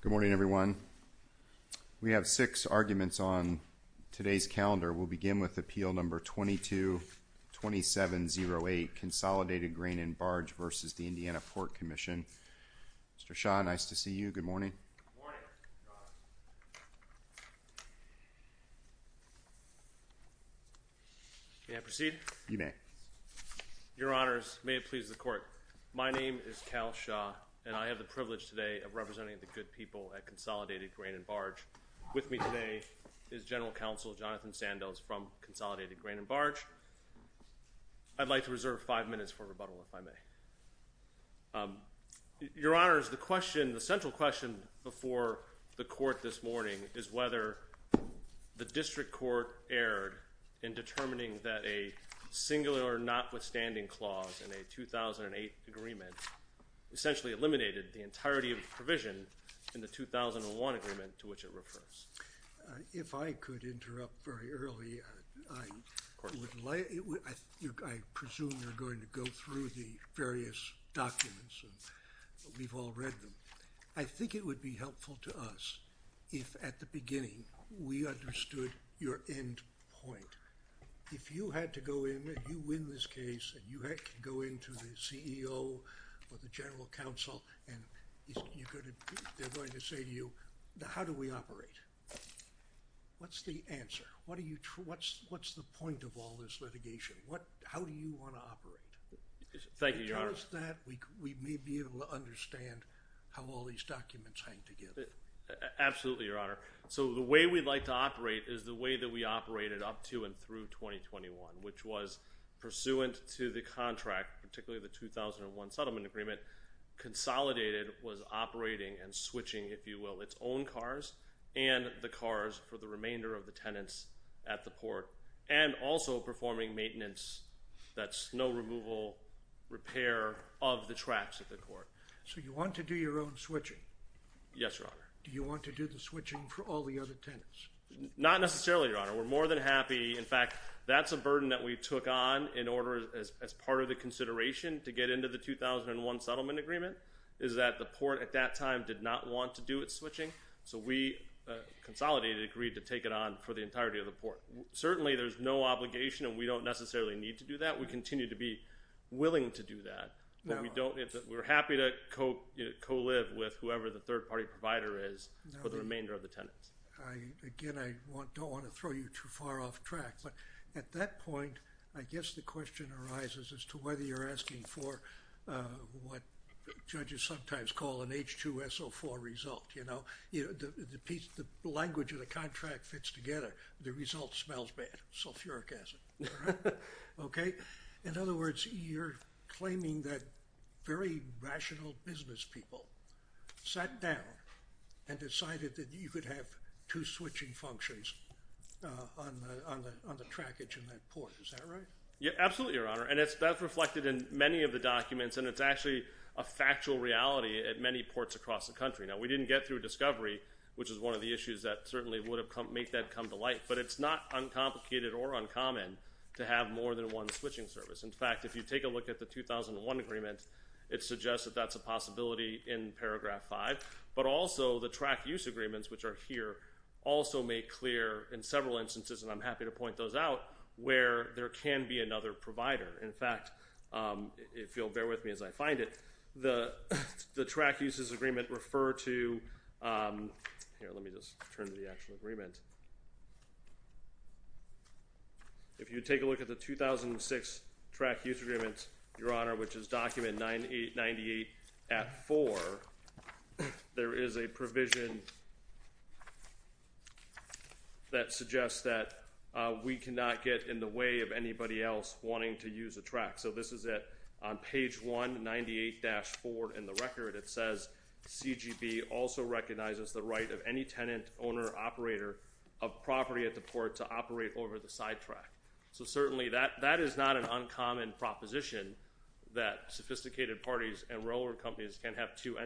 Good morning everyone. We have six arguments on today's calendar. We'll begin with Appeal Number 22-2708 Consolidated Grain and Barge v. the Indiana Port Commission. Mr. Shaw, nice to see you. Good morning. May I proceed? You may. Your Honors, may it please the court, my name is Cal Shaw and I have the privilege today of representing the good people at Consolidated Grain and Barge. With me today is General Counsel Jonathan Sandoz from Consolidated Grain and Barge. I'd like to reserve five minutes for rebuttal if I may. Your Honors, the question, the central question before the court this morning is whether the district court erred in determining that a singular notwithstanding clause in a 2008 agreement essentially eliminated the entirety of the provision in the 2001 agreement to which it refers. If I could interrupt very early, I presume you're going to go through the various documents and we've all read them. I think it would be helpful to us if at the beginning we understood your end point. If you had to go in, you win this and they're going to say to you, how do we operate? What's the answer? What are you, what's the point of all this litigation? What, how do you want to operate? Thank you, Your Honor. Tell us that, we may be able to understand how all these documents hang together. Absolutely, Your Honor. So the way we'd like to operate is the way that we operated up to and through 2021, which was pursuant to the was operating and switching, if you will, its own cars and the cars for the remainder of the tenants at the port and also performing maintenance, that's snow removal, repair of the tracks at the court. So you want to do your own switching? Yes, Your Honor. Do you want to do the switching for all the other tenants? Not necessarily, Your Honor. We're more than happy, in fact, that's a burden that we took on in order as part of the consideration to get into the 2001 settlement agreement, is that the port at that time did not want to do it switching, so we consolidated, agreed to take it on for the entirety of the port. Certainly there's no obligation and we don't necessarily need to do that. We continue to be willing to do that, but we don't, we're happy to co-live with whoever the third-party provider is for the remainder of the tenants. Again, I don't want to throw you too far off track, but at that point, I guess the you're asking for what judges sometimes call an H2SO4 result, you know, the piece, the language of the contract fits together, the result smells bad, sulfuric acid, okay? In other words, you're claiming that very rational business people sat down and decided that you could have two switching functions on the trackage in that port, is that right? Yeah, absolutely, Your Honor, and that's reflected in many of the documents and it's actually a factual reality at many ports across the country. Now, we didn't get through discovery, which is one of the issues that certainly would have come, make that come to light, but it's not uncomplicated or uncommon to have more than one switching service. In fact, if you take a look at the 2001 agreement, it suggests that that's a possibility in paragraph 5, but also the track use agreements, which are here, also make clear in several instances, and I'm happy to point those out, where there can be another provider. In fact, if you'll bear with me as I find it, the track uses agreement refer to, here let me just turn to the actual agreement, if you take a look at the 2006 track use agreement, Your Honor, which is document 9898 at 4, there is a provision that suggests that we cannot get in the way of anybody else wanting to use a track. So this is it, on page 198-4 in the record, it says CGB also recognizes the right of any tenant, owner, operator of property at the port to operate over the sidetrack. So certainly that that is not an uncommon proposition that sophisticated parties and railroad companies can have two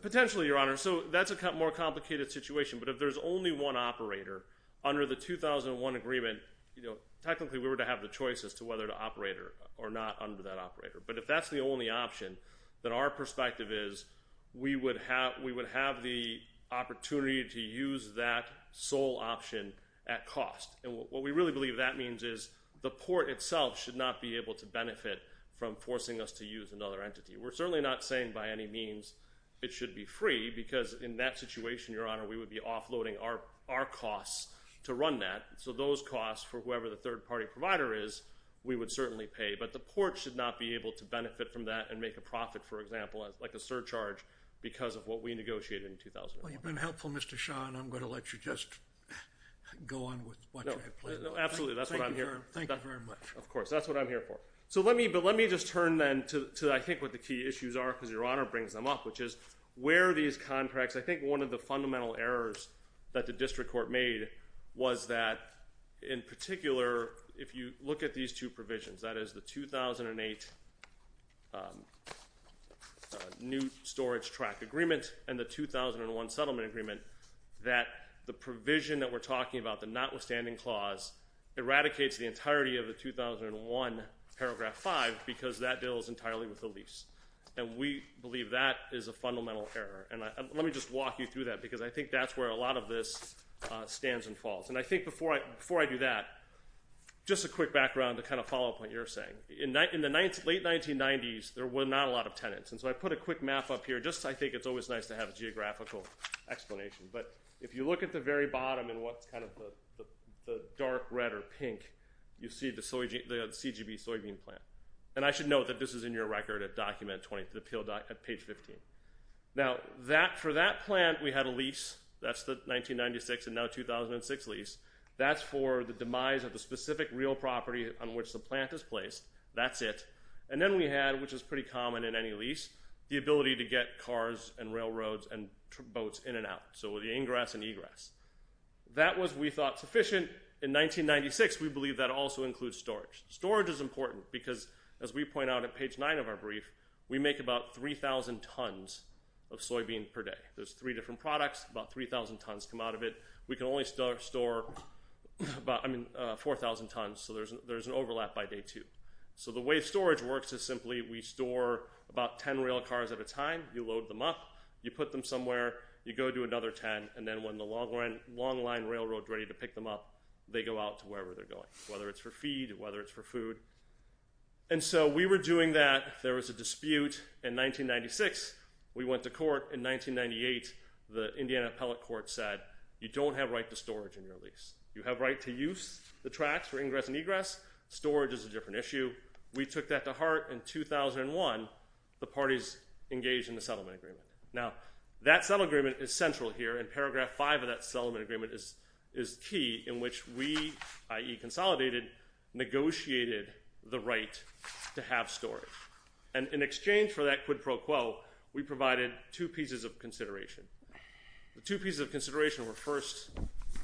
potentially your honor so that's a cut more complicated situation but if there's only one operator under the 2001 agreement you know technically we were to have the choice as to whether to operator or not under that operator but if that's the only option that our perspective is we would have we would have the opportunity to use that sole option at cost and what we really believe that means is the port itself should not be able to benefit from forcing us to use another entity we're certainly not saying by any means it should be free because in that situation your honor we would be offloading our our costs to run that so those costs for whoever the third-party provider is we would certainly pay but the port should not be able to benefit from that and make a profit for example as like a surcharge because of what we negotiated helpful mr. Shawn I'm going to let you just go on with what absolutely that's what I'm here thank you very much of course that's what I'm here for so let me but let me just turn then to I think what the key issues are because your honor brings them up which is where these contracts I think one of the fundamental errors that the district court made was that in particular if you look at these two provisions that is the 2008 new storage track agreement and the 2001 settlement agreement that the provision that we're talking about the notwithstanding clause eradicates the entirety of the 2001 paragraph 5 because that deal is entirely with the lease and we believe that is a fundamental error and let me just walk you through that because I think that's where a lot of this stands and falls and I think before I before I do that just a quick background to kind of follow up what you're saying in night in the ninth late 1990s there were not a lot of tenants and so I put a quick map up here just I think it's always nice to have a geographical explanation but if you look at the very bottom and what's kind of the dark red or pink you see the soy G the CGB soybean plant and I should note that this is in your record at document 20 to the peel dock at page 15 now that for that plant we had a lease that's the 1996 and now 2006 lease that's for the demise of the specific real property on which the plant is placed that's it and then we had which is pretty common in any lease the ability to get cars and railroads and boats in and out so with the ingress and egress that was we thought sufficient in 1996 we believe that also includes storage storage is important because as we point out at page 9 of our brief we make about 3,000 tons of soybean per day there's three different products about 3,000 tons come out of it we can only start store but I mean 4,000 tons so there's there's an overlap by day two so the way storage works is simply we store about ten rail cars at a time you load them up you put them somewhere you go to another ten and then when the long run long line railroad ready to pick them up they go out to wherever they're going whether it's for feed whether it's for food and so we were doing that there was a dispute in 1996 we went to court in 1998 the Indiana Appellate Court said you don't have right to storage in your lease you have right to use the tracks for ingress and egress storage is a different issue we took that to heart in 2001 the parties engaged in the settlement agreement now that settlement is central here in paragraph 5 of that settlement agreement is is key in which we ie consolidated negotiated the right to have storage and in exchange for that quid pro quo we provided two pieces of consideration the pieces of consideration were first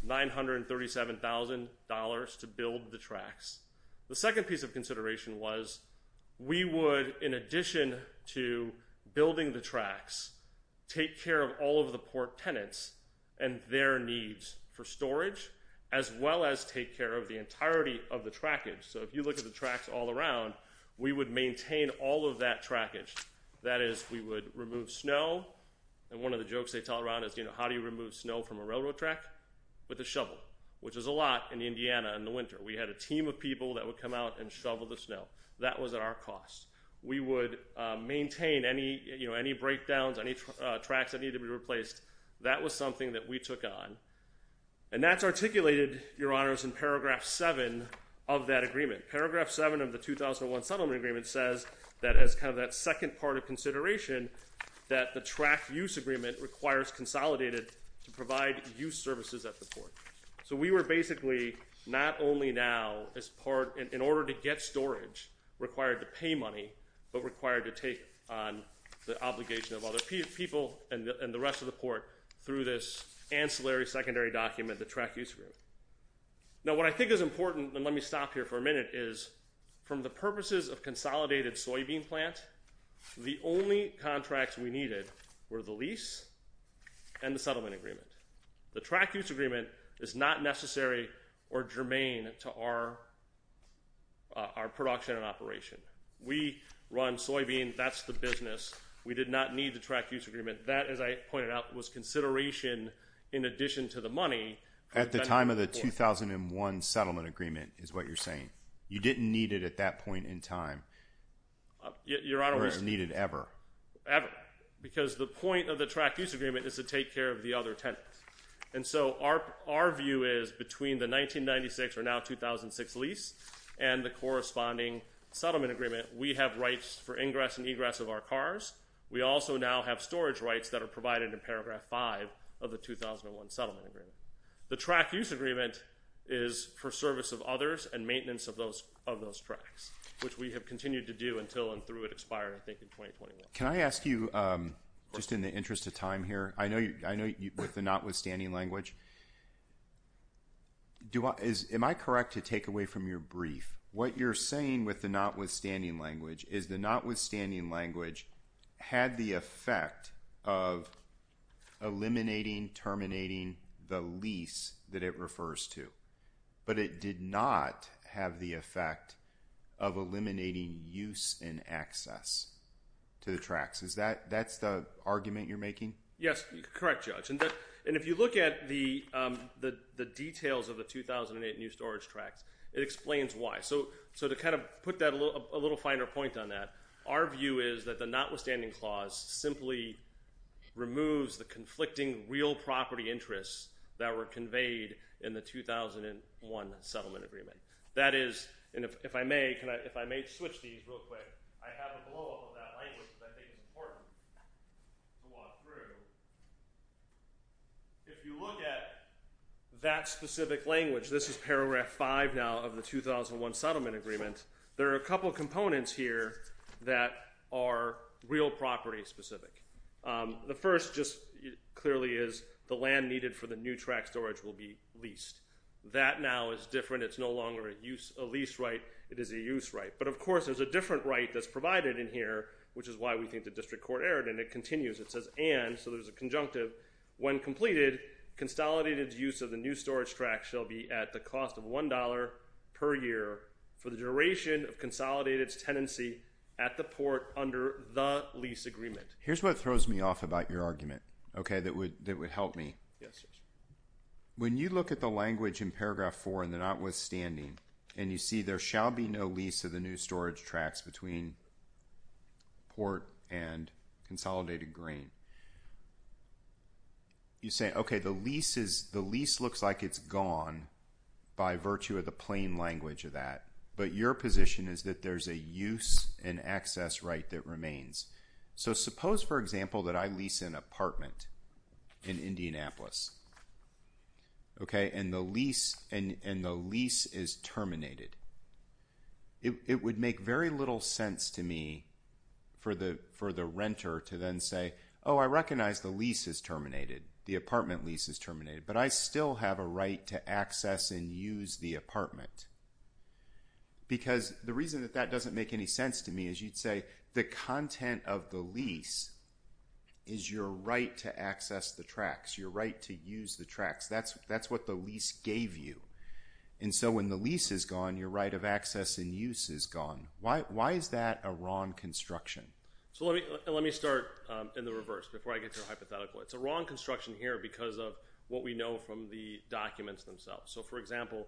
nine hundred thirty seven thousand dollars to build the tracks the second piece of consideration was we would in addition to building the tracks take care of all of the port tenants and their needs for storage as well as take care of the entirety of the trackage so if you look at the tracks all around we would maintain all of that trackage that is we would remove snow and one of the jokes they tell around is you know how do you remove snow from a railroad track with a shovel which is a lot in Indiana in the winter we had a team of people that would come out and shovel the snow that was at our cost we would maintain any you know any breakdowns on each tracks that need to be replaced that was something that we took on and that's articulated your honors in paragraph 7 of that agreement paragraph 7 of the 2001 settlement agreement says that as kind of that second part of consideration that the track use agreement requires consolidated to provide use services at the port so we were basically not only now as part in order to get storage required to pay money but required to take on the obligation of other people and the rest of the port through this ancillary secondary document the track use room now what I think is important and let me stop here for a minute is from the purposes of consolidated soybean plant the only contracts we needed were the lease and the settlement agreement the track use agreement is not necessary or germane to our our production and operation we run soybean that's the business we did not need the track use agreement that as I pointed out was consideration in addition to the money at the time of the 2001 settlement agreement is what you're saying you didn't need it at that point in time your honor is needed ever ever because the point of the track use agreement is to take care of the other tenants and so our our view is between the 1996 or now 2006 lease and the corresponding settlement agreement we have rights for ingress and egress of our cars we also now have storage rights that are provided in paragraph 5 of the 2001 settlement agreement the track use agreement is for service of others and maintenance of those of those tracks which we have continued to do until and through it expired I think in 2021 can I ask you just in the interest of time here I know you I know you put the not withstanding language do what is am I correct to take away from your brief what you're saying with the notwithstanding language is the notwithstanding language had the effect of eliminating terminating the lease that it refers to but it did not have the effect of eliminating use and access to the tracks is that that's the argument you're making yes correct judge and that and if you look at the the the details of the 2008 new storage tracks it explains why so so to kind of put that a little finer point on that our view is that the notwithstanding clause simply removes the conflicting real property interests that were conveyed in the 2001 settlement agreement that is if I may if I may switch these real quick if you look at that specific language this is paragraph 5 now of the 2001 settlement agreement there are a couple of components here that are real property specific the first just clearly is the land needed for the new track storage will be leased that now is different it's no longer a use a lease right it is a use right but of course there's a different right that's provided in here which is why we think the district court erred and it continues it says and so there's a conjunctive when completed consolidated use of the new storage track shall be at the cost of one dollar per year for the duration of consolidated tenancy at the port under the lease agreement here's what throws me off about your argument okay that would that would help me yes when you look at the language in paragraph 4 and the notwithstanding and you see there shall be no lease of the new storage tracks between port and consolidated green you say okay the lease is the lease looks like it's gone by virtue of the plain language of that but your position is that there's a use and lease an apartment in Indianapolis okay and the lease and and the lease is terminated it would make very little sense to me for the for the renter to then say oh I recognize the lease is terminated the apartment lease is terminated but I still have a right to access and use the apartment because the reason that that doesn't make any sense to me is you'd say the content of the lease is your right to access the tracks your right to use the tracks that's that's what the lease gave you and so when the lease is gone your right of access and use is gone why is that a wrong construction so let me let me start in the reverse before I get to a hypothetical it's a wrong construction here because of what we know from the documents themselves so for example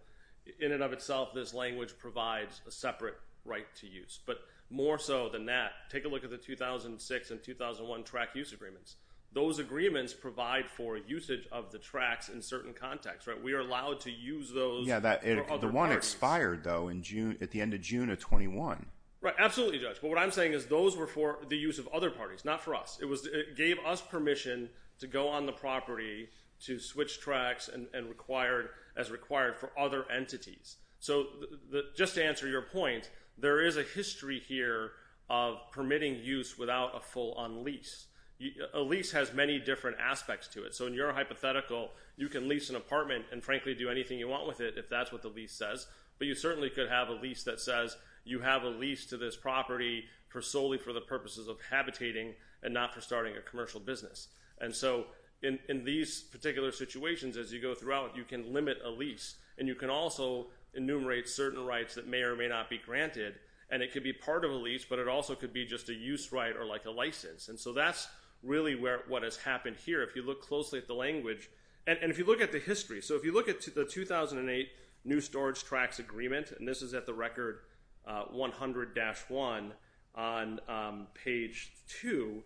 in and of itself this language provides a separate right to use but more so than that take a look at the 2006 and 2001 track use agreements those agreements provide for usage of the tracks in certain contexts right we are allowed to use those yeah that the one expired though in June at the end of June of 21 right absolutely judge but what I'm saying is those were for the use of other parties not for us it was it gave us permission to go on the property to switch tracks and required as required for other entities so the just answer your point there is a history here of permitting use without a full on lease a lease has many different aspects to it so in your hypothetical you can lease an apartment and frankly do anything you want with it if that's what the lease says but you certainly could have a lease that says you have a lease to this property for solely for the purposes of habitating and not for starting a commercial business and so in these particular situations as you go throughout you can limit a lease and you can also enumerate certain rights that may or may not be granted and it could be part of a lease but it also could be just a use right or like a license and so that's really where what has happened here if you look closely at the language and if you look at the history so if you look at the 2008 new storage tracks agreement and this is at the record 100 dash 1 on page 2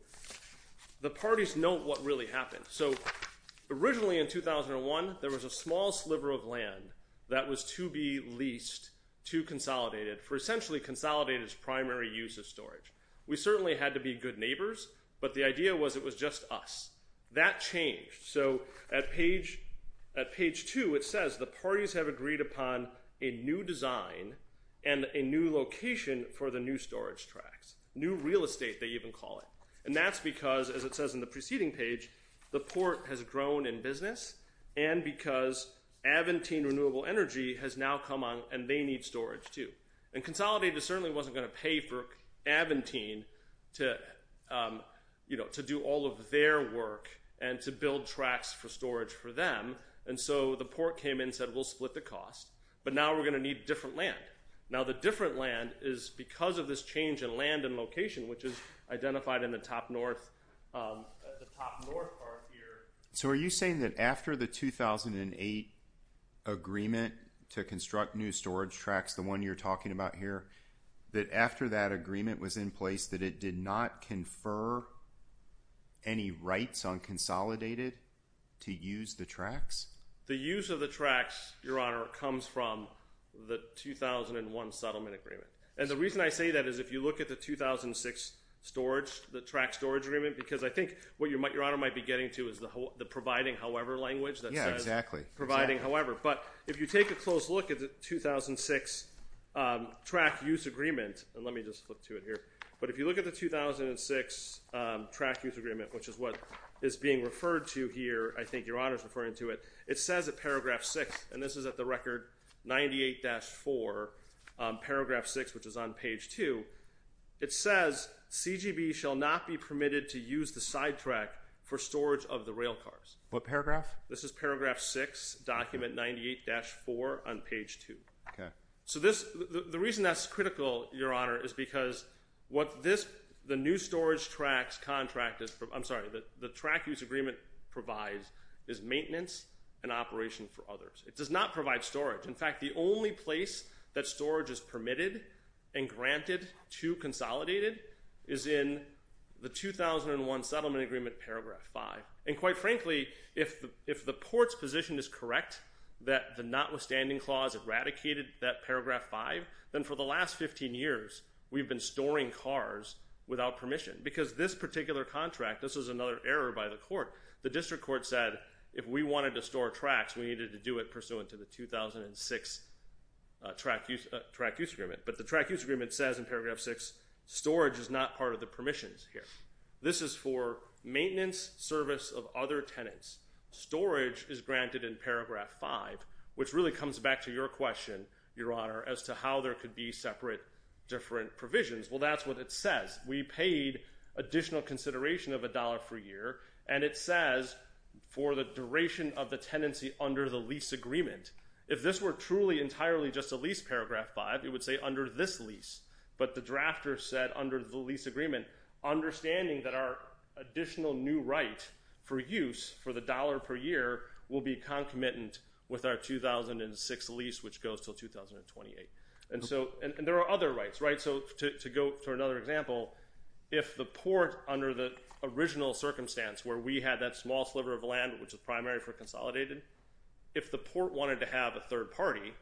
the parties know what really happened so originally in 2001 there was a small sliver of land that was to be leased to consolidated for essentially consolidated primary use of storage we certainly had to be good neighbors but the idea was it was just us that changed so at page at page 2 it says the parties have agreed upon a new design and a new location for the new storage tracks new real estate they even call it and that's because as it says in the preceding page the port has grown in business and because Aventine renewable energy has now come on and they need storage too and consolidated certainly wasn't going to pay for Aventine to you know to do all of their work and to build tracks for storage for them and so the port came in said we'll split the cost but now we're going to need different land now the different land is because of this change in land and location which is identified in the top north so are you saying that after the 2008 agreement to construct new storage tracks the one you're talking about here that after that agreement was in place that it did not confer any rights on consolidated to use the tracks the use of the tracks your honor comes from the 2001 settlement agreement and the reason I say that is if you look at the 2006 storage the track storage agreement because I think what your might your honor might be getting to is the whole the providing however language that yeah exactly providing however but if you take a close look at the 2006 track use agreement and let me just flip to it here but if you look at the 2006 track use agreement which is what is being referred to here I think your honors referring to it it says at record 98-4 paragraph 6 which is on page 2 it says CGB shall not be permitted to use the sidetrack for storage of the rail cars what paragraph this is paragraph 6 document 98-4 on page 2 so this the reason that's critical your honor is because what this the new storage tracks contract is from I'm sorry that the track use agreement provides is maintenance and operation for others it does not provide storage in fact the only place that storage is permitted and granted to consolidated is in the 2001 settlement agreement paragraph 5 and quite frankly if if the ports position is correct that the notwithstanding clause eradicated that paragraph 5 then for the last 15 years we've been storing cars without permission because this particular contract this is another error by the court the district court said if we wanted to store tracks we needed to do it pursuant to the 2006 track use track use agreement but the track use agreement says in paragraph 6 storage is not part of the permissions here this is for maintenance service of other tenants storage is granted in paragraph 5 which really comes back to your question your honor as to how there could be separate different provisions well that's what it says we paid additional consideration of a dollar per year and it says for the expiration of the tenancy under the lease agreement if this were truly entirely just a lease paragraph 5 it would say under this lease but the drafter said under the lease agreement understanding that our additional new right for use for the dollar per year will be concomitant with our 2006 lease which goes till 2028 and so and there are other rights right so to go to another example if the port under the original circumstance where we had that small sliver of land which is primary for consolidated if the port wanted to have a third party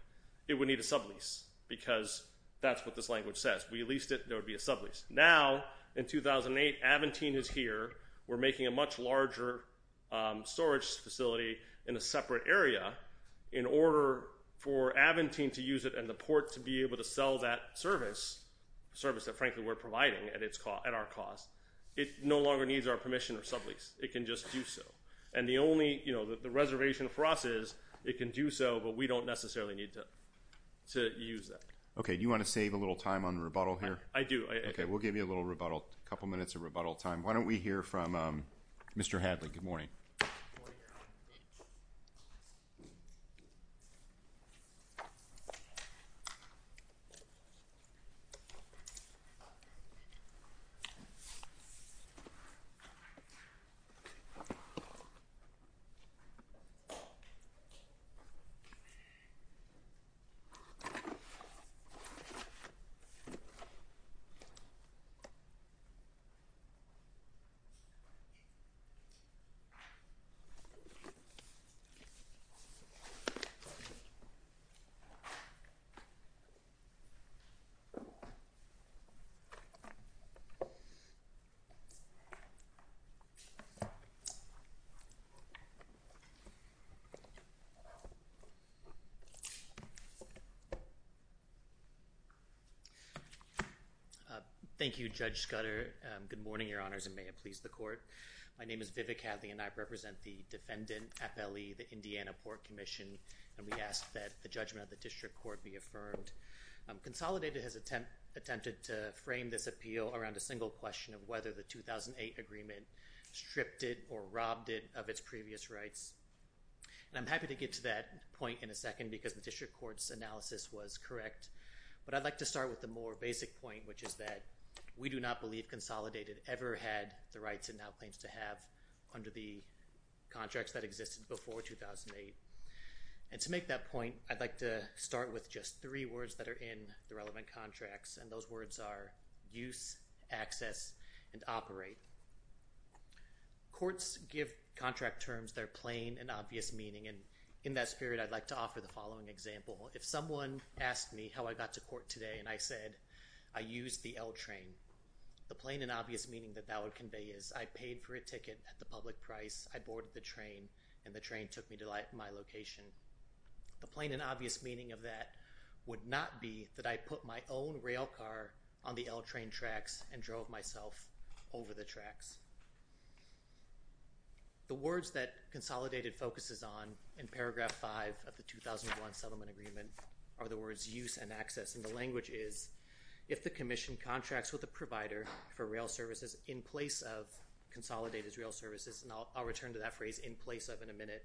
it would need a sublease because that's what this language says we leased it there would be a sublease now in 2008 Aventine is here we're making a much larger storage facility in a separate area in order for Aventine to use it and the port to be able to sell that service service that frankly we're providing at its call at our cost it no longer needs our submission or sublease it can just do so and the only you know that the reservation for us is it can do so but we don't necessarily need to to use that okay you want to save a little time on rebuttal here I do okay we'll give you a little rebuttal a couple minutes of rebuttal time why don't we hear from mr. Hadley good morning thank you judge Scudder good morning your honors and may it please the court my name is vivid Kathy and I represent the defendant FLE the Indiana Port Commission and we ask that the judgment of the district court be affirmed consolidated has attempt attempted to frame this appeal around a single question of whether the 2008 agreement stripped it or robbed it of its previous rights and I'm happy to get to that point in a second because the district courts analysis was correct but I'd like to start with the more basic point which is that we do not believe consolidated ever had the rights and now claims to have under the contracts that existed before 2008 and to make that point I'd like to start with just three words that are in the relevant contracts and those words are use access and operate courts give contract terms they're plain and obvious meaning and in that spirit I'd like to offer the following example if someone asked me how I got to court today and I said I used the L train the plain and obvious meaning that that would convey is I paid for a ticket at the public price I boarded the train and the train took me to like my location the plain and obvious meaning of that would not be that I put my own rail car on the L train tracks and drove myself over the tracks the words that consolidated focuses on in paragraph 5 of the 2001 settlement agreement are the words use and access and the language is if the Commission contracts with a provider for rail services in place of consolidated rail services and I'll turn to that phrase in place of in a minute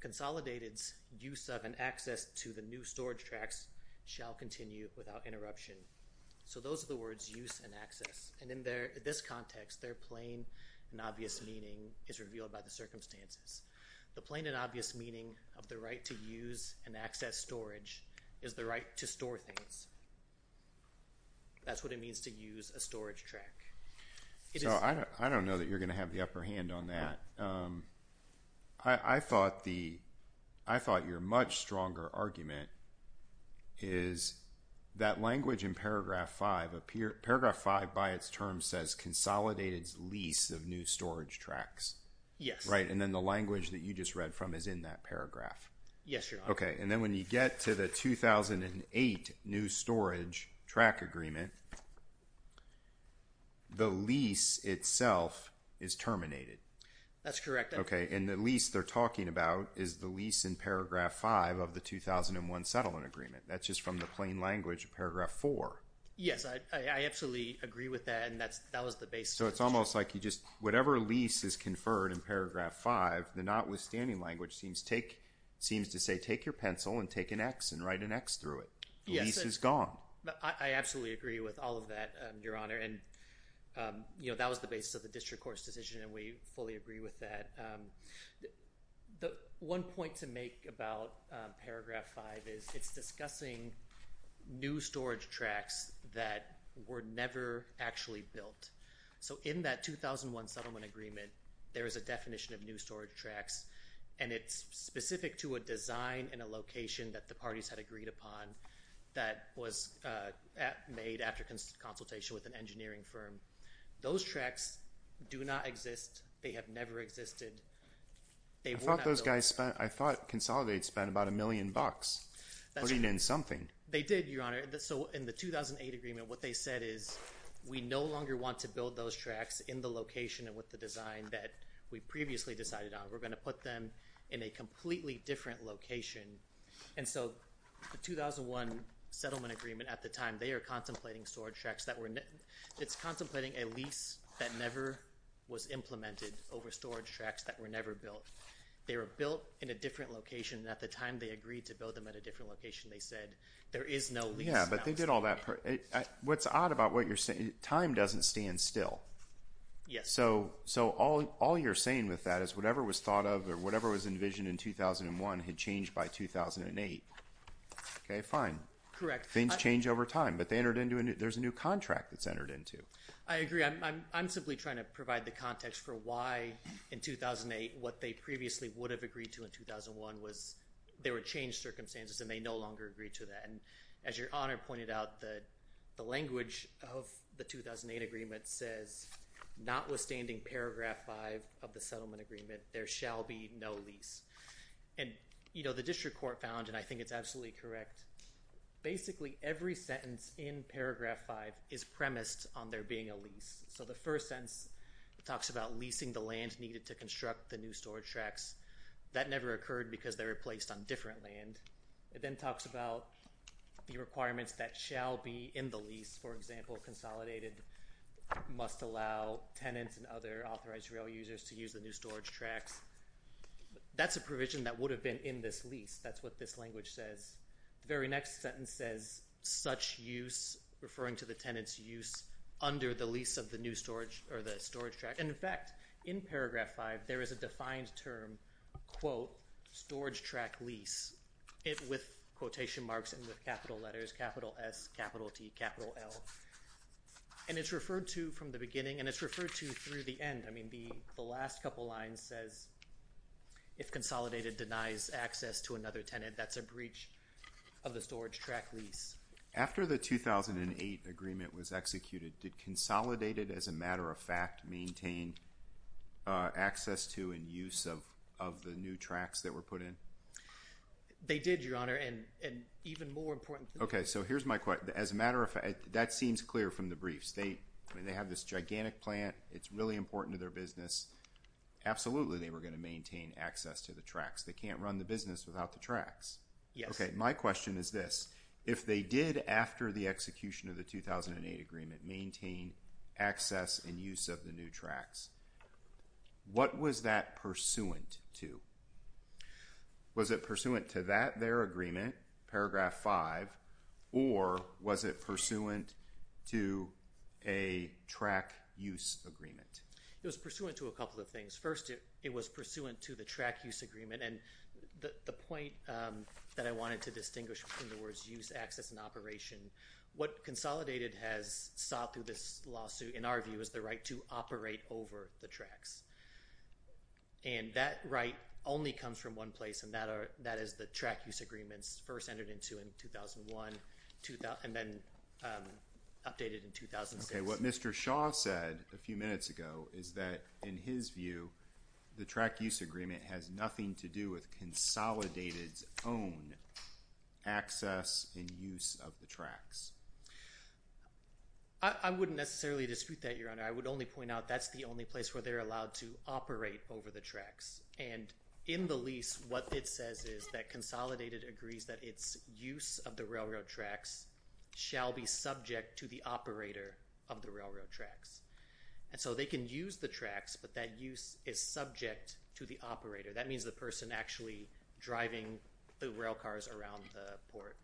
consolidated use of an access to the new storage tracks shall continue without interruption so those are the words use and access and in there this context they're plain and obvious meaning is revealed by the circumstances the plain and obvious meaning of the right to use and access storage is the right to store things that's what it means to use a storage track I don't know that you're gonna have the upper hand on that I thought the I thought you're much stronger argument is that language in paragraph 5 appear paragraph 5 by its term says consolidated lease of new storage tracks yes right and then the language that you just read from is in that paragraph yes okay and then when you get to the 2008 new storage track agreement the lease itself is terminated that's correct okay and at least they're talking about is the lease in paragraph 5 of the 2001 settlement agreement that's just from the plain language paragraph 4 yes I absolutely agree with that and that's that was the base so it's almost like you just whatever lease is conferred in paragraph 5 the notwithstanding language seems take seems to say take your pencil and take an X and write an X through it yes gone I absolutely agree with all of that your honor and you know that was the basis of the district court's decision and we fully agree with that the one point to make about paragraph 5 is it's discussing new storage tracks that were never actually built so in that 2001 settlement agreement there is a definition of new storage tracks and it's specific to a design in a location that the parties had agreed upon that was made after consultation with an engineering firm those tracks do not exist they have never existed they thought those guys spent I thought consolidate spent about a million bucks that's even something they did your honor that so in the 2008 agreement what they said is we no longer want to build those tracks in the location and with the design that we previously decided on we're going to put them in a completely different location and so the 2001 settlement agreement at the time they are contemplating storage tracks that were it's contemplating a lease that never was implemented over storage tracks that were never built they were built in a different location at the time they agreed to build them at a different location they said there is no yeah but they did all that what's odd about what you're saying time doesn't stand still yes so so all all you're saying with that is whatever was thought of or whatever was envisioned in 2001 had changed by 2008 okay fine correct things change over time but they entered into it there's a new contract that's entered into I agree I'm simply trying to provide the context for why in 2008 what they previously would have agreed to in 2001 was there were changed circumstances and they no longer agreed to that and as your honor pointed out that the language of the 2008 agreement says notwithstanding paragraph 5 of the settlement agreement there shall be no and you know the district court found and I think it's absolutely correct basically every sentence in paragraph 5 is premised on there being a lease so the first sense it talks about leasing the land needed to construct the new storage tracks that never occurred because they're replaced on different land it then talks about the requirements that shall be in the lease for example consolidated must allow tenants and other authorized rail users to use the new storage tracks that's a provision that would have been in this lease that's what this language says the very next sentence says such use referring to the tenants use under the lease of the new storage or the storage track and in fact in paragraph 5 there is a defined term quote storage track lease it with quotation marks and with capital letters capital S capital T capital L and it's referred to from the beginning and it's referred to through the end I mean be the last couple lines says if consolidated denies access to another tenant that's a breach of the storage track lease after the 2008 agreement was executed did consolidated as a matter of fact maintain access to and use of of the new tracks that were put in they did your honor and and even more important okay so here's my question as a matter of fact that seems clear from the brief state I mean they have this gigantic plant it's really important to their business absolutely they were going to maintain access to the tracks they can't run the business without the tracks yes okay my question is this if they did after the execution of the 2008 agreement maintain access and use of the new tracks what was that pursuant to was it pursuant to that their agreement paragraph 5 or was it pursuant to a track use agreement it was pursuant to a couple of things first it it was pursuant to the track use agreement and the point that I wanted to distinguish in the words use access and operation what consolidated has sought through this lawsuit in our view is the right to operate over the tracks and that right only comes from one place and that is the track use agreements first entered into in 2001 and then updated in 2000 okay what mr. Shaw said a few minutes ago is that in his view the track use agreement has nothing to do with consolidated own access and use of the tracks I wouldn't necessarily dispute that your honor I would only point out that's the only place where they're allowed to operate over the says is that consolidated agrees that its use of the railroad tracks shall be subject to the operator of the railroad tracks and so they can use the tracks but that use is subject to the operator that means the person actually driving the rail cars around the port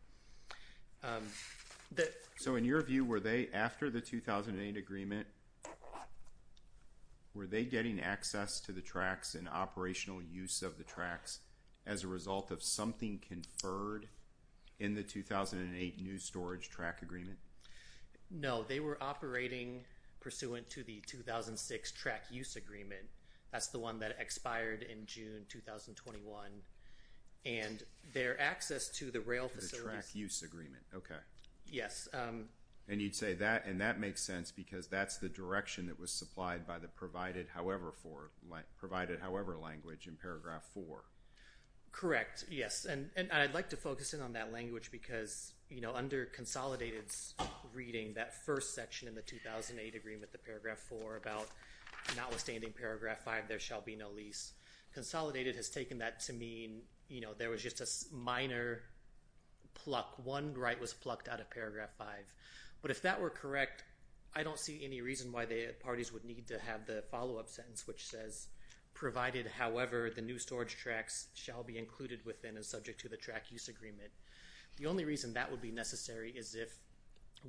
that so in your view were they after the 2008 agreement were they getting access to the tracks and operational use of the result of something conferred in the 2008 new storage track agreement no they were operating pursuant to the 2006 track use agreement that's the one that expired in June 2021 and their access to the rail track use agreement okay yes and you'd say that and that makes sense because that's the direction that was supplied by the provided however for like provided however language in correct yes and and I'd like to focus in on that language because you know under consolidated's reading that first section in the 2008 agreement the paragraph 4 about notwithstanding paragraph 5 there shall be no lease consolidated has taken that to mean you know there was just a minor pluck one right was plucked out of paragraph 5 but if that were correct I don't see any reason why the parties would need to have the follow-up sentence which says provided however the new storage tracks shall be included within and subject to the track use agreement the only reason that would be necessary is if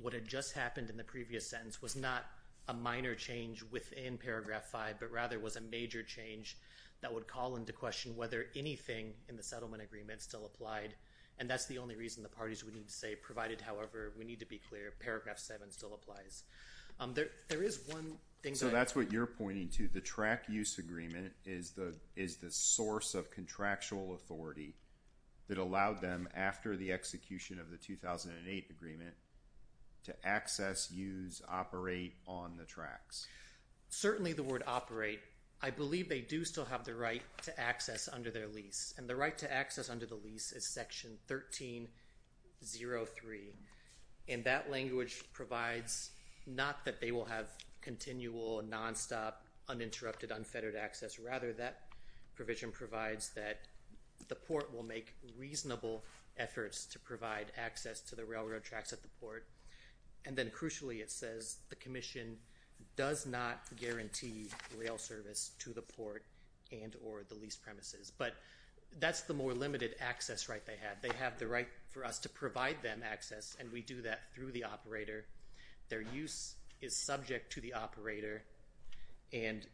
what had just happened in the previous sentence was not a minor change within paragraph 5 but rather was a major change that would call into question whether anything in the settlement agreement still applied and that's the only reason the parties we need to say provided however we need to be clear paragraph 7 still applies there there is one thing so that's what you're pointing to the track use agreement is the is the source of contractual authority that allowed them after the execution of the 2008 agreement to access use operate on the tracks certainly the word operate I believe they do still have the right to access under their lease and the right to access under the lease is section 13 0 3 and that language provides not that they will have continual non-stop uninterrupted unfettered access rather that provision provides that the port will make reasonable efforts to provide access to the railroad tracks at the port and then crucially it says the Commission does not guarantee rail service to the port and or the lease premises but that's the more limited access right they had they have the right for us to provide them access and we do that through the operator their use is subject to the operator and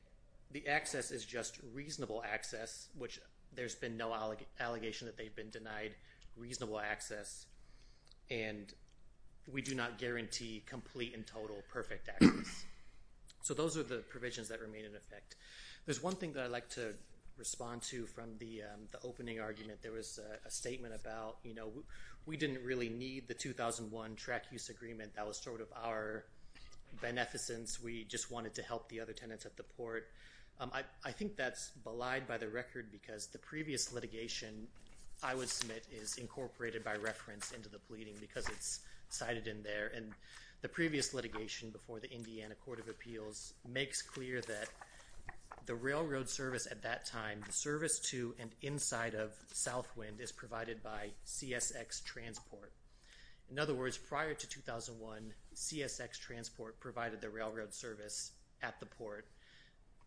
the access is just reasonable access which there's been no allegation that they've been denied reasonable access and we do not guarantee complete and total perfect access so those are the provisions that remain in effect there's one thing that I like to respond to from the opening argument there was a statement about you use agreement that was sort of our beneficence we just wanted to help the other tenants at the port I think that's belied by the record because the previous litigation I would submit is incorporated by reference into the pleading because it's cited in there and the previous litigation before the Indiana Court of Appeals makes clear that the railroad service at that time the service to and inside of Southwind is provided by CSX transport in other words prior to 2001 CSX transport provided the railroad service at the port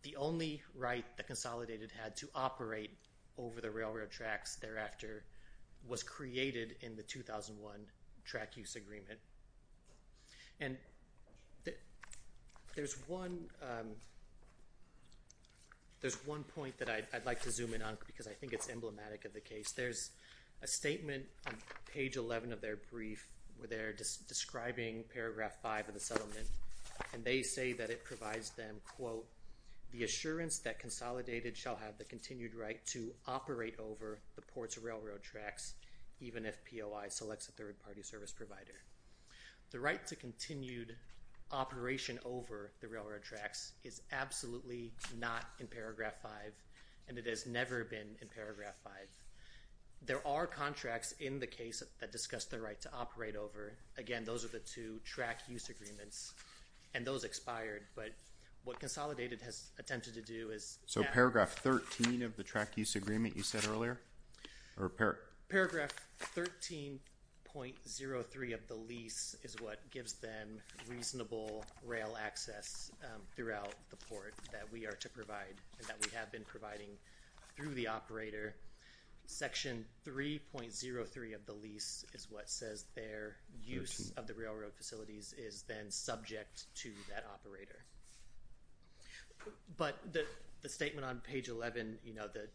the only right that consolidated had to operate over the railroad tracks thereafter was created in the 2001 track use agreement and there's one there's one point that I'd like to zoom in on because I think it's emblematic of the case there's a statement on page 11 of their brief where they're just describing paragraph 5 of the settlement and they say that it provides them quote the assurance that consolidated shall have the continued right to operate over the ports railroad tracks even if POI selects a third-party service provider the right to continued operation over the railroad tracks is absolutely not in paragraph 5 and it has never been in paragraph 5 there are contracts in the case that discussed the right to operate over again those are the two track use agreements and those expired but what consolidated has attempted to do is so paragraph 13 of the track use agreement you said earlier repair paragraph 13.03 of the lease is what gives them reasonable rail access throughout the that we have been providing through the operator section 3.03 of the lease is what says their use of the railroad facilities is then subject to that operator but the statement on page 11 you know that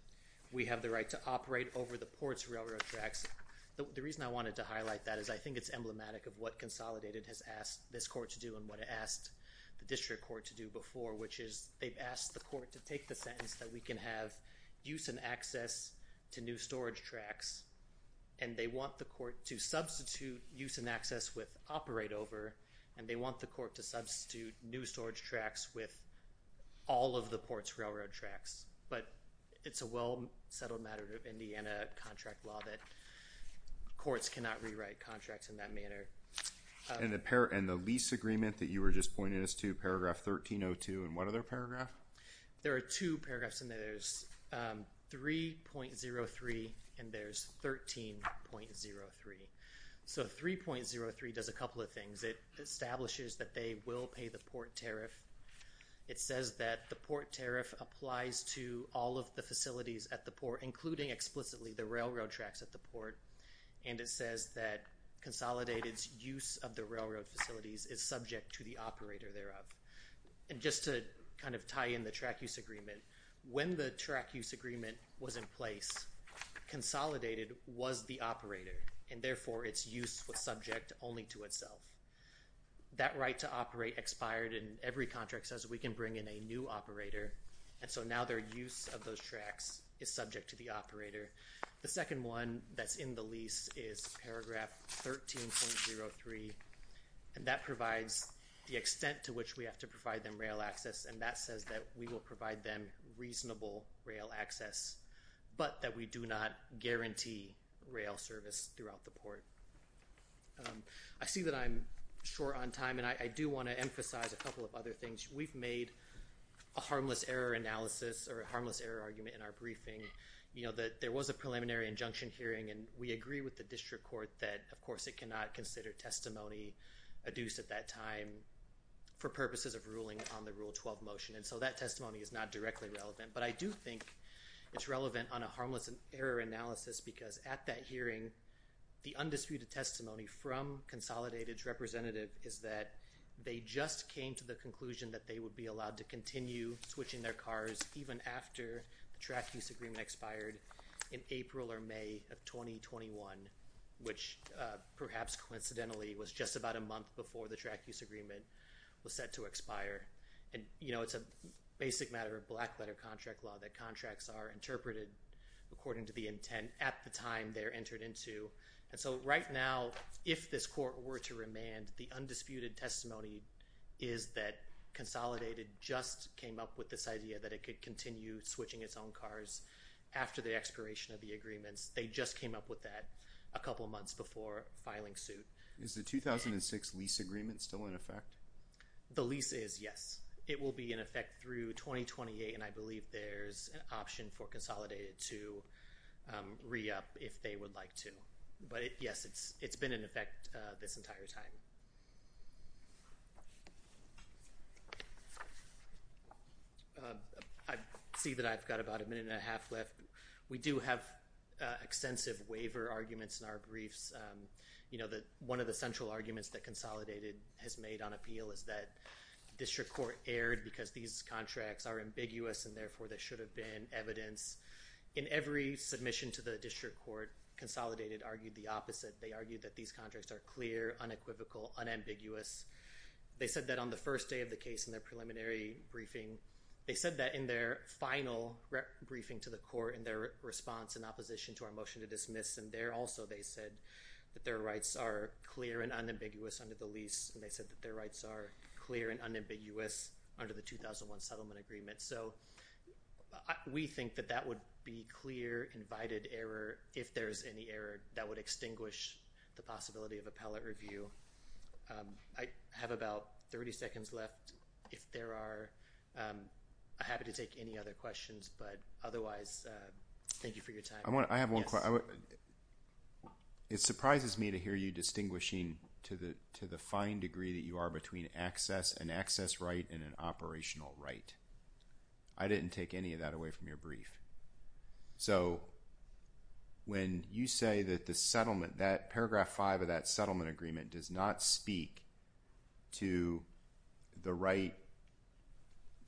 we have the right to operate over the ports railroad tracks the reason I wanted to highlight that is I think it's emblematic of what consolidated has asked this court to do and what it asked the district court to do before which is they've asked the take the sentence that we can have use and access to new storage tracks and they want the court to substitute use and access with operate over and they want the court to substitute new storage tracks with all of the ports railroad tracks but it's a well settled matter of Indiana contract law that courts cannot rewrite contracts in that manner and the pair and the lease agreement that you were just pointing us to paragraph 1302 and what other paragraph there are two paragraphs in there's 3.03 and there's 13.03 so 3.03 does a couple of things it establishes that they will pay the port tariff it says that the port tariff applies to all of the facilities at the port including explicitly the railroad tracks at the port and it says that consolidated use of the railroad facilities is subject to the operator thereof and just to kind of tie in the track use agreement when the track use agreement was in place consolidated was the operator and therefore its use was subject only to itself that right to operate expired and every contract says we can bring in a new operator and so now their use of those tracks is subject to the operator the second one that's in the lease is paragraph 13.03 and that provides the extent to which we have to provide them rail access and that says that we will provide them reasonable rail access but that we do not guarantee rail service throughout the port I see that I'm short on time and I do want to emphasize a couple of other things we've made a harmless error analysis or a harmless error argument in our briefing you know that there was a preliminary injunction hearing and we agree with the district court that of course it cannot consider testimony adduced at that time for purposes of ruling on the rule 12 motion and so that testimony is not directly relevant but I do think it's relevant on a harmless and error analysis because at that hearing the undisputed testimony from consolidated representative is that they just came to the conclusion that they would be expired in April or May of 2021 which perhaps coincidentally was just about a month before the track use agreement was set to expire and you know it's a basic matter of black letter contract law that contracts are interpreted according to the intent at the time they're entered into and so right now if this court were to remand the undisputed testimony is that consolidated just came up with this after the expiration of the agreements they just came up with that a couple months before filing suit is the 2006 lease agreement still in effect the lease is yes it will be in effect through 2028 and I believe there's an option for consolidated to re-up if they would like to but yes it's it's been in a half left we do have extensive waiver arguments in our briefs you know that one of the central arguments that consolidated has made on appeal is that district court erred because these contracts are ambiguous and therefore there should have been evidence in every submission to the district court consolidated argued the opposite they argued that these contracts are clear unequivocal unambiguous they said that on the first day of the case in their preliminary briefing they said that in their final briefing to the court in their response in opposition to our motion to dismiss and there also they said that their rights are clear and unambiguous under the lease and they said that their rights are clear and unambiguous under the 2001 settlement agreement so we think that that would be clear invited error if there's any error that would extinguish the possibility of appellate review I have about 30 seconds left if there are happy to take any other questions but otherwise thank you for your time I want I have one it surprises me to hear you distinguishing to the to the fine degree that you are between access and access right and an operational right I didn't take any of that away from your brief so when you say that the settlement that paragraph five of that settlement agreement does not speak to the right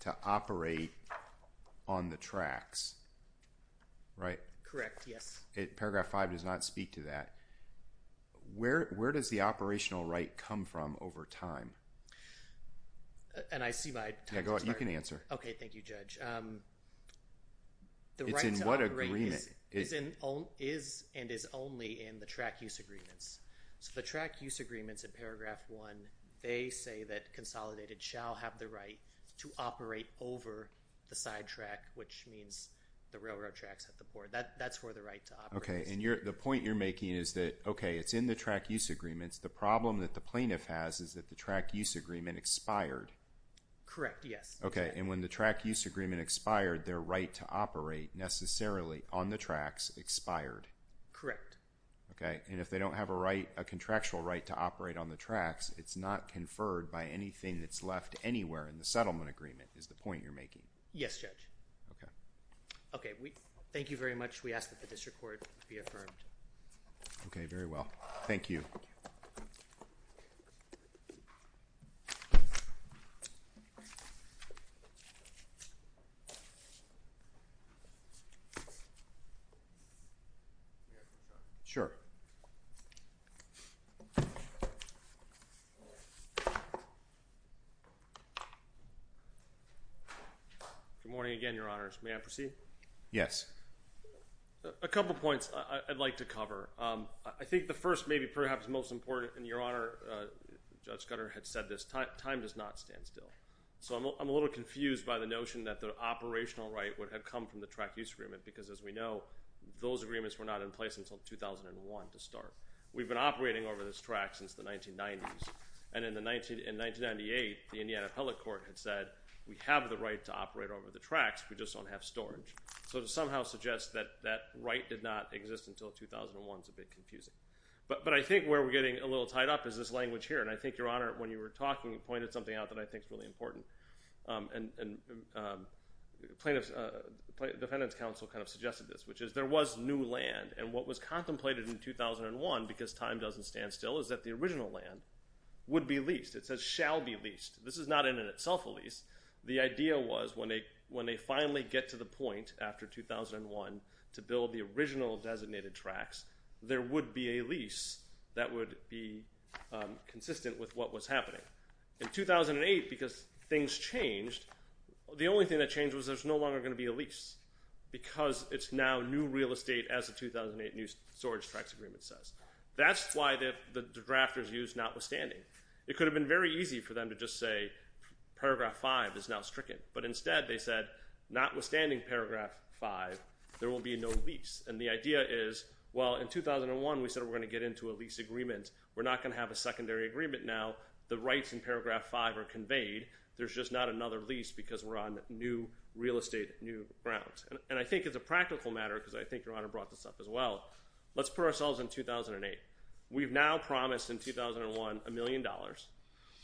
to operate on the tracks right correct yes it paragraph five does not speak to that where where does the operational right come from over time and I see my you can answer okay thank you judge the right in what agreement is in all is and is only in the track use agreements so the track use agreements in paragraph one they say that consolidated shall have the right to operate over the sidetrack which means the railroad tracks at the board that that's where the right okay and you're the point you're making is that okay it's in the track use agreements the problem that the plaintiff has is that the track use agreement expired correct yes okay and when the track use agreement expired their right to operate necessarily on the tracks expired correct okay and if they don't have a right a contractual right to operate on the tracks it's not conferred by anything that's left anywhere in the settlement agreement is the point you're making yes judge okay okay we thank you very much we ask that the district court be affirmed okay very well thank you sure good morning again your honors may I proceed yes a couple points I'd like to cover I think the first maybe perhaps most important in your honor judge Scudder had said this time time does not stand still so I'm a little confused by the notion that the operational right would have come from the track use agreement because as we know those agreements were not in place until 2001 to start we've been operating over this track since the 1990s and in the 19 in 1998 the Indiana appellate court had said we have the right to operate over the tracks we just don't have storage so to somehow suggest that that right did not exist until 2001 it's a bit confusing but but I think where we're getting a little tied up is this language here and I think your honor when you were talking and pointed something out that I think is really important and plaintiffs defendant's counsel kind of suggested this which is there was new land and what was contemplated in 2001 because time doesn't stand still is that the original land would be leased it says shall be leased this is not in itself a lease the idea was when they when they finally get to the point after 2001 to build the original designated tracks there would be a lease that would be consistent with what was happening in 2008 because things changed the only thing that changed was there's no longer going to be a lease because it's now new real estate as the 2008 news storage tracks agreement says that's why the drafters used notwithstanding it could have been very easy for them to just say paragraph 5 is now stricken but instead they said notwithstanding paragraph 5 there will be no lease and the idea is well in 2001 we said we're going to get into a lease agreement we're not going to have a there's just not another lease because we're on new real estate new grounds and I think it's a practical matter because I think your honor brought this up as well let's put ourselves in 2008 we've now promised in 2001 a million dollars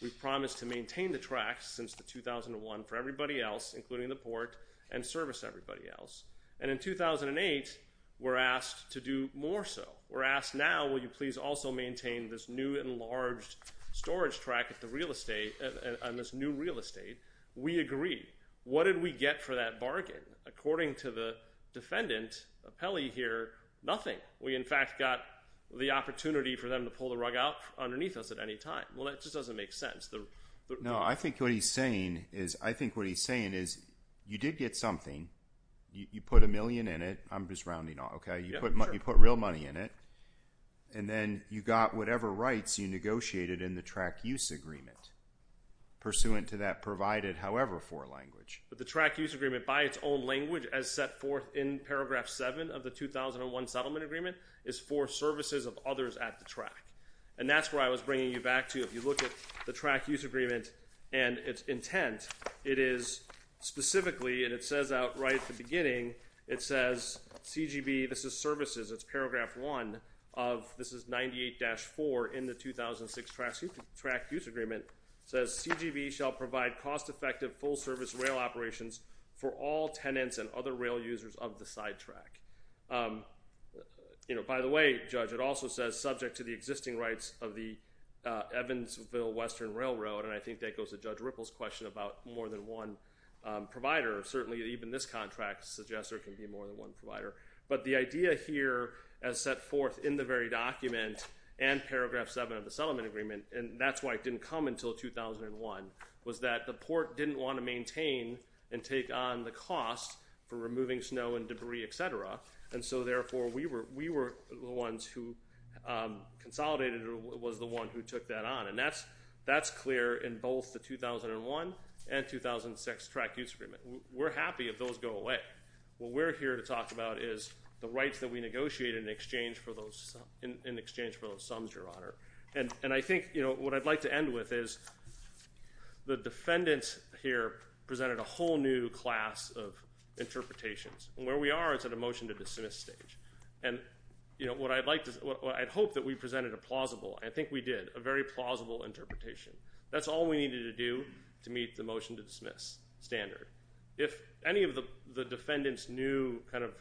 we've promised to maintain the tracks since the 2001 for everybody else including the port and service everybody else and in 2008 we're asked to do more so we're asked now will you please also maintain this new enlarged storage track at the real estate on this new real estate we agree what did we get for that bargain according to the defendant a Peli here nothing we in fact got the opportunity for them to pull the rug out underneath us at any time well that just doesn't make sense though no I think what he's saying is I think what he's saying is you did get something you put a million in it I'm just rounding off okay you put money put real money in it and then you got whatever rights you negotiated in the track use agreement pursuant to that provided however for language but the track use agreement by its own language as set forth in paragraph 7 of the 2001 settlement agreement is for services of others at the track and that's where I was bringing you back to if you look at the track use agreement and its intent it is specifically and it says out right at the beginning it says CGB this is services it's paragraph 1 of this is 98 for in the 2006 tracks you can track use agreement says CGB shall provide cost-effective full service rail operations for all tenants and other rail users of the sidetrack you know by the way judge it also says subject to the existing rights of the Evansville Western Railroad and I think that goes to judge ripples question about more than one provider certainly even this contract suggests there can be more than one provider but the idea here as set in the very document and paragraph 7 of the settlement agreement and that's why it didn't come until 2001 was that the port didn't want to maintain and take on the cost for removing snow and debris etc and so therefore we were we were the ones who consolidated it was the one who took that on and that's that's clear in both the 2001 and 2006 track use agreement we're happy if those go away well we're here to talk about is the rights that we negotiate in exchange for those in exchange for those sums your honor and and I think you know what I'd like to end with is the defendants here presented a whole new class of interpretations and where we are it's at a motion to dismiss stage and you know what I'd like to I'd hope that we presented a plausible I think we did a very plausible interpretation that's all we needed to do to meet the motion to dismiss standard if any of the the defendants new kind of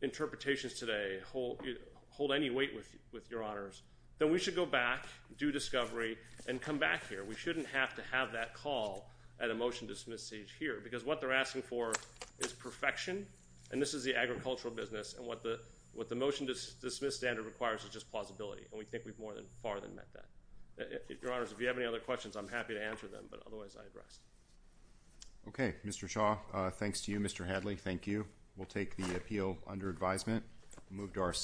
interpretations today hold hold any weight with with your honors then we should go back do discovery and come back here we shouldn't have to have that call at a motion dismiss each here because what they're asking for is perfection and this is the agricultural business and what the what the motion does dismiss standard requires is just plausibility and we think we've more than far than met that if your honors if you have any other questions I'm happy to answer them but otherwise I address okay mr. Shaw thanks to you mr. Hadley thank you we'll move to our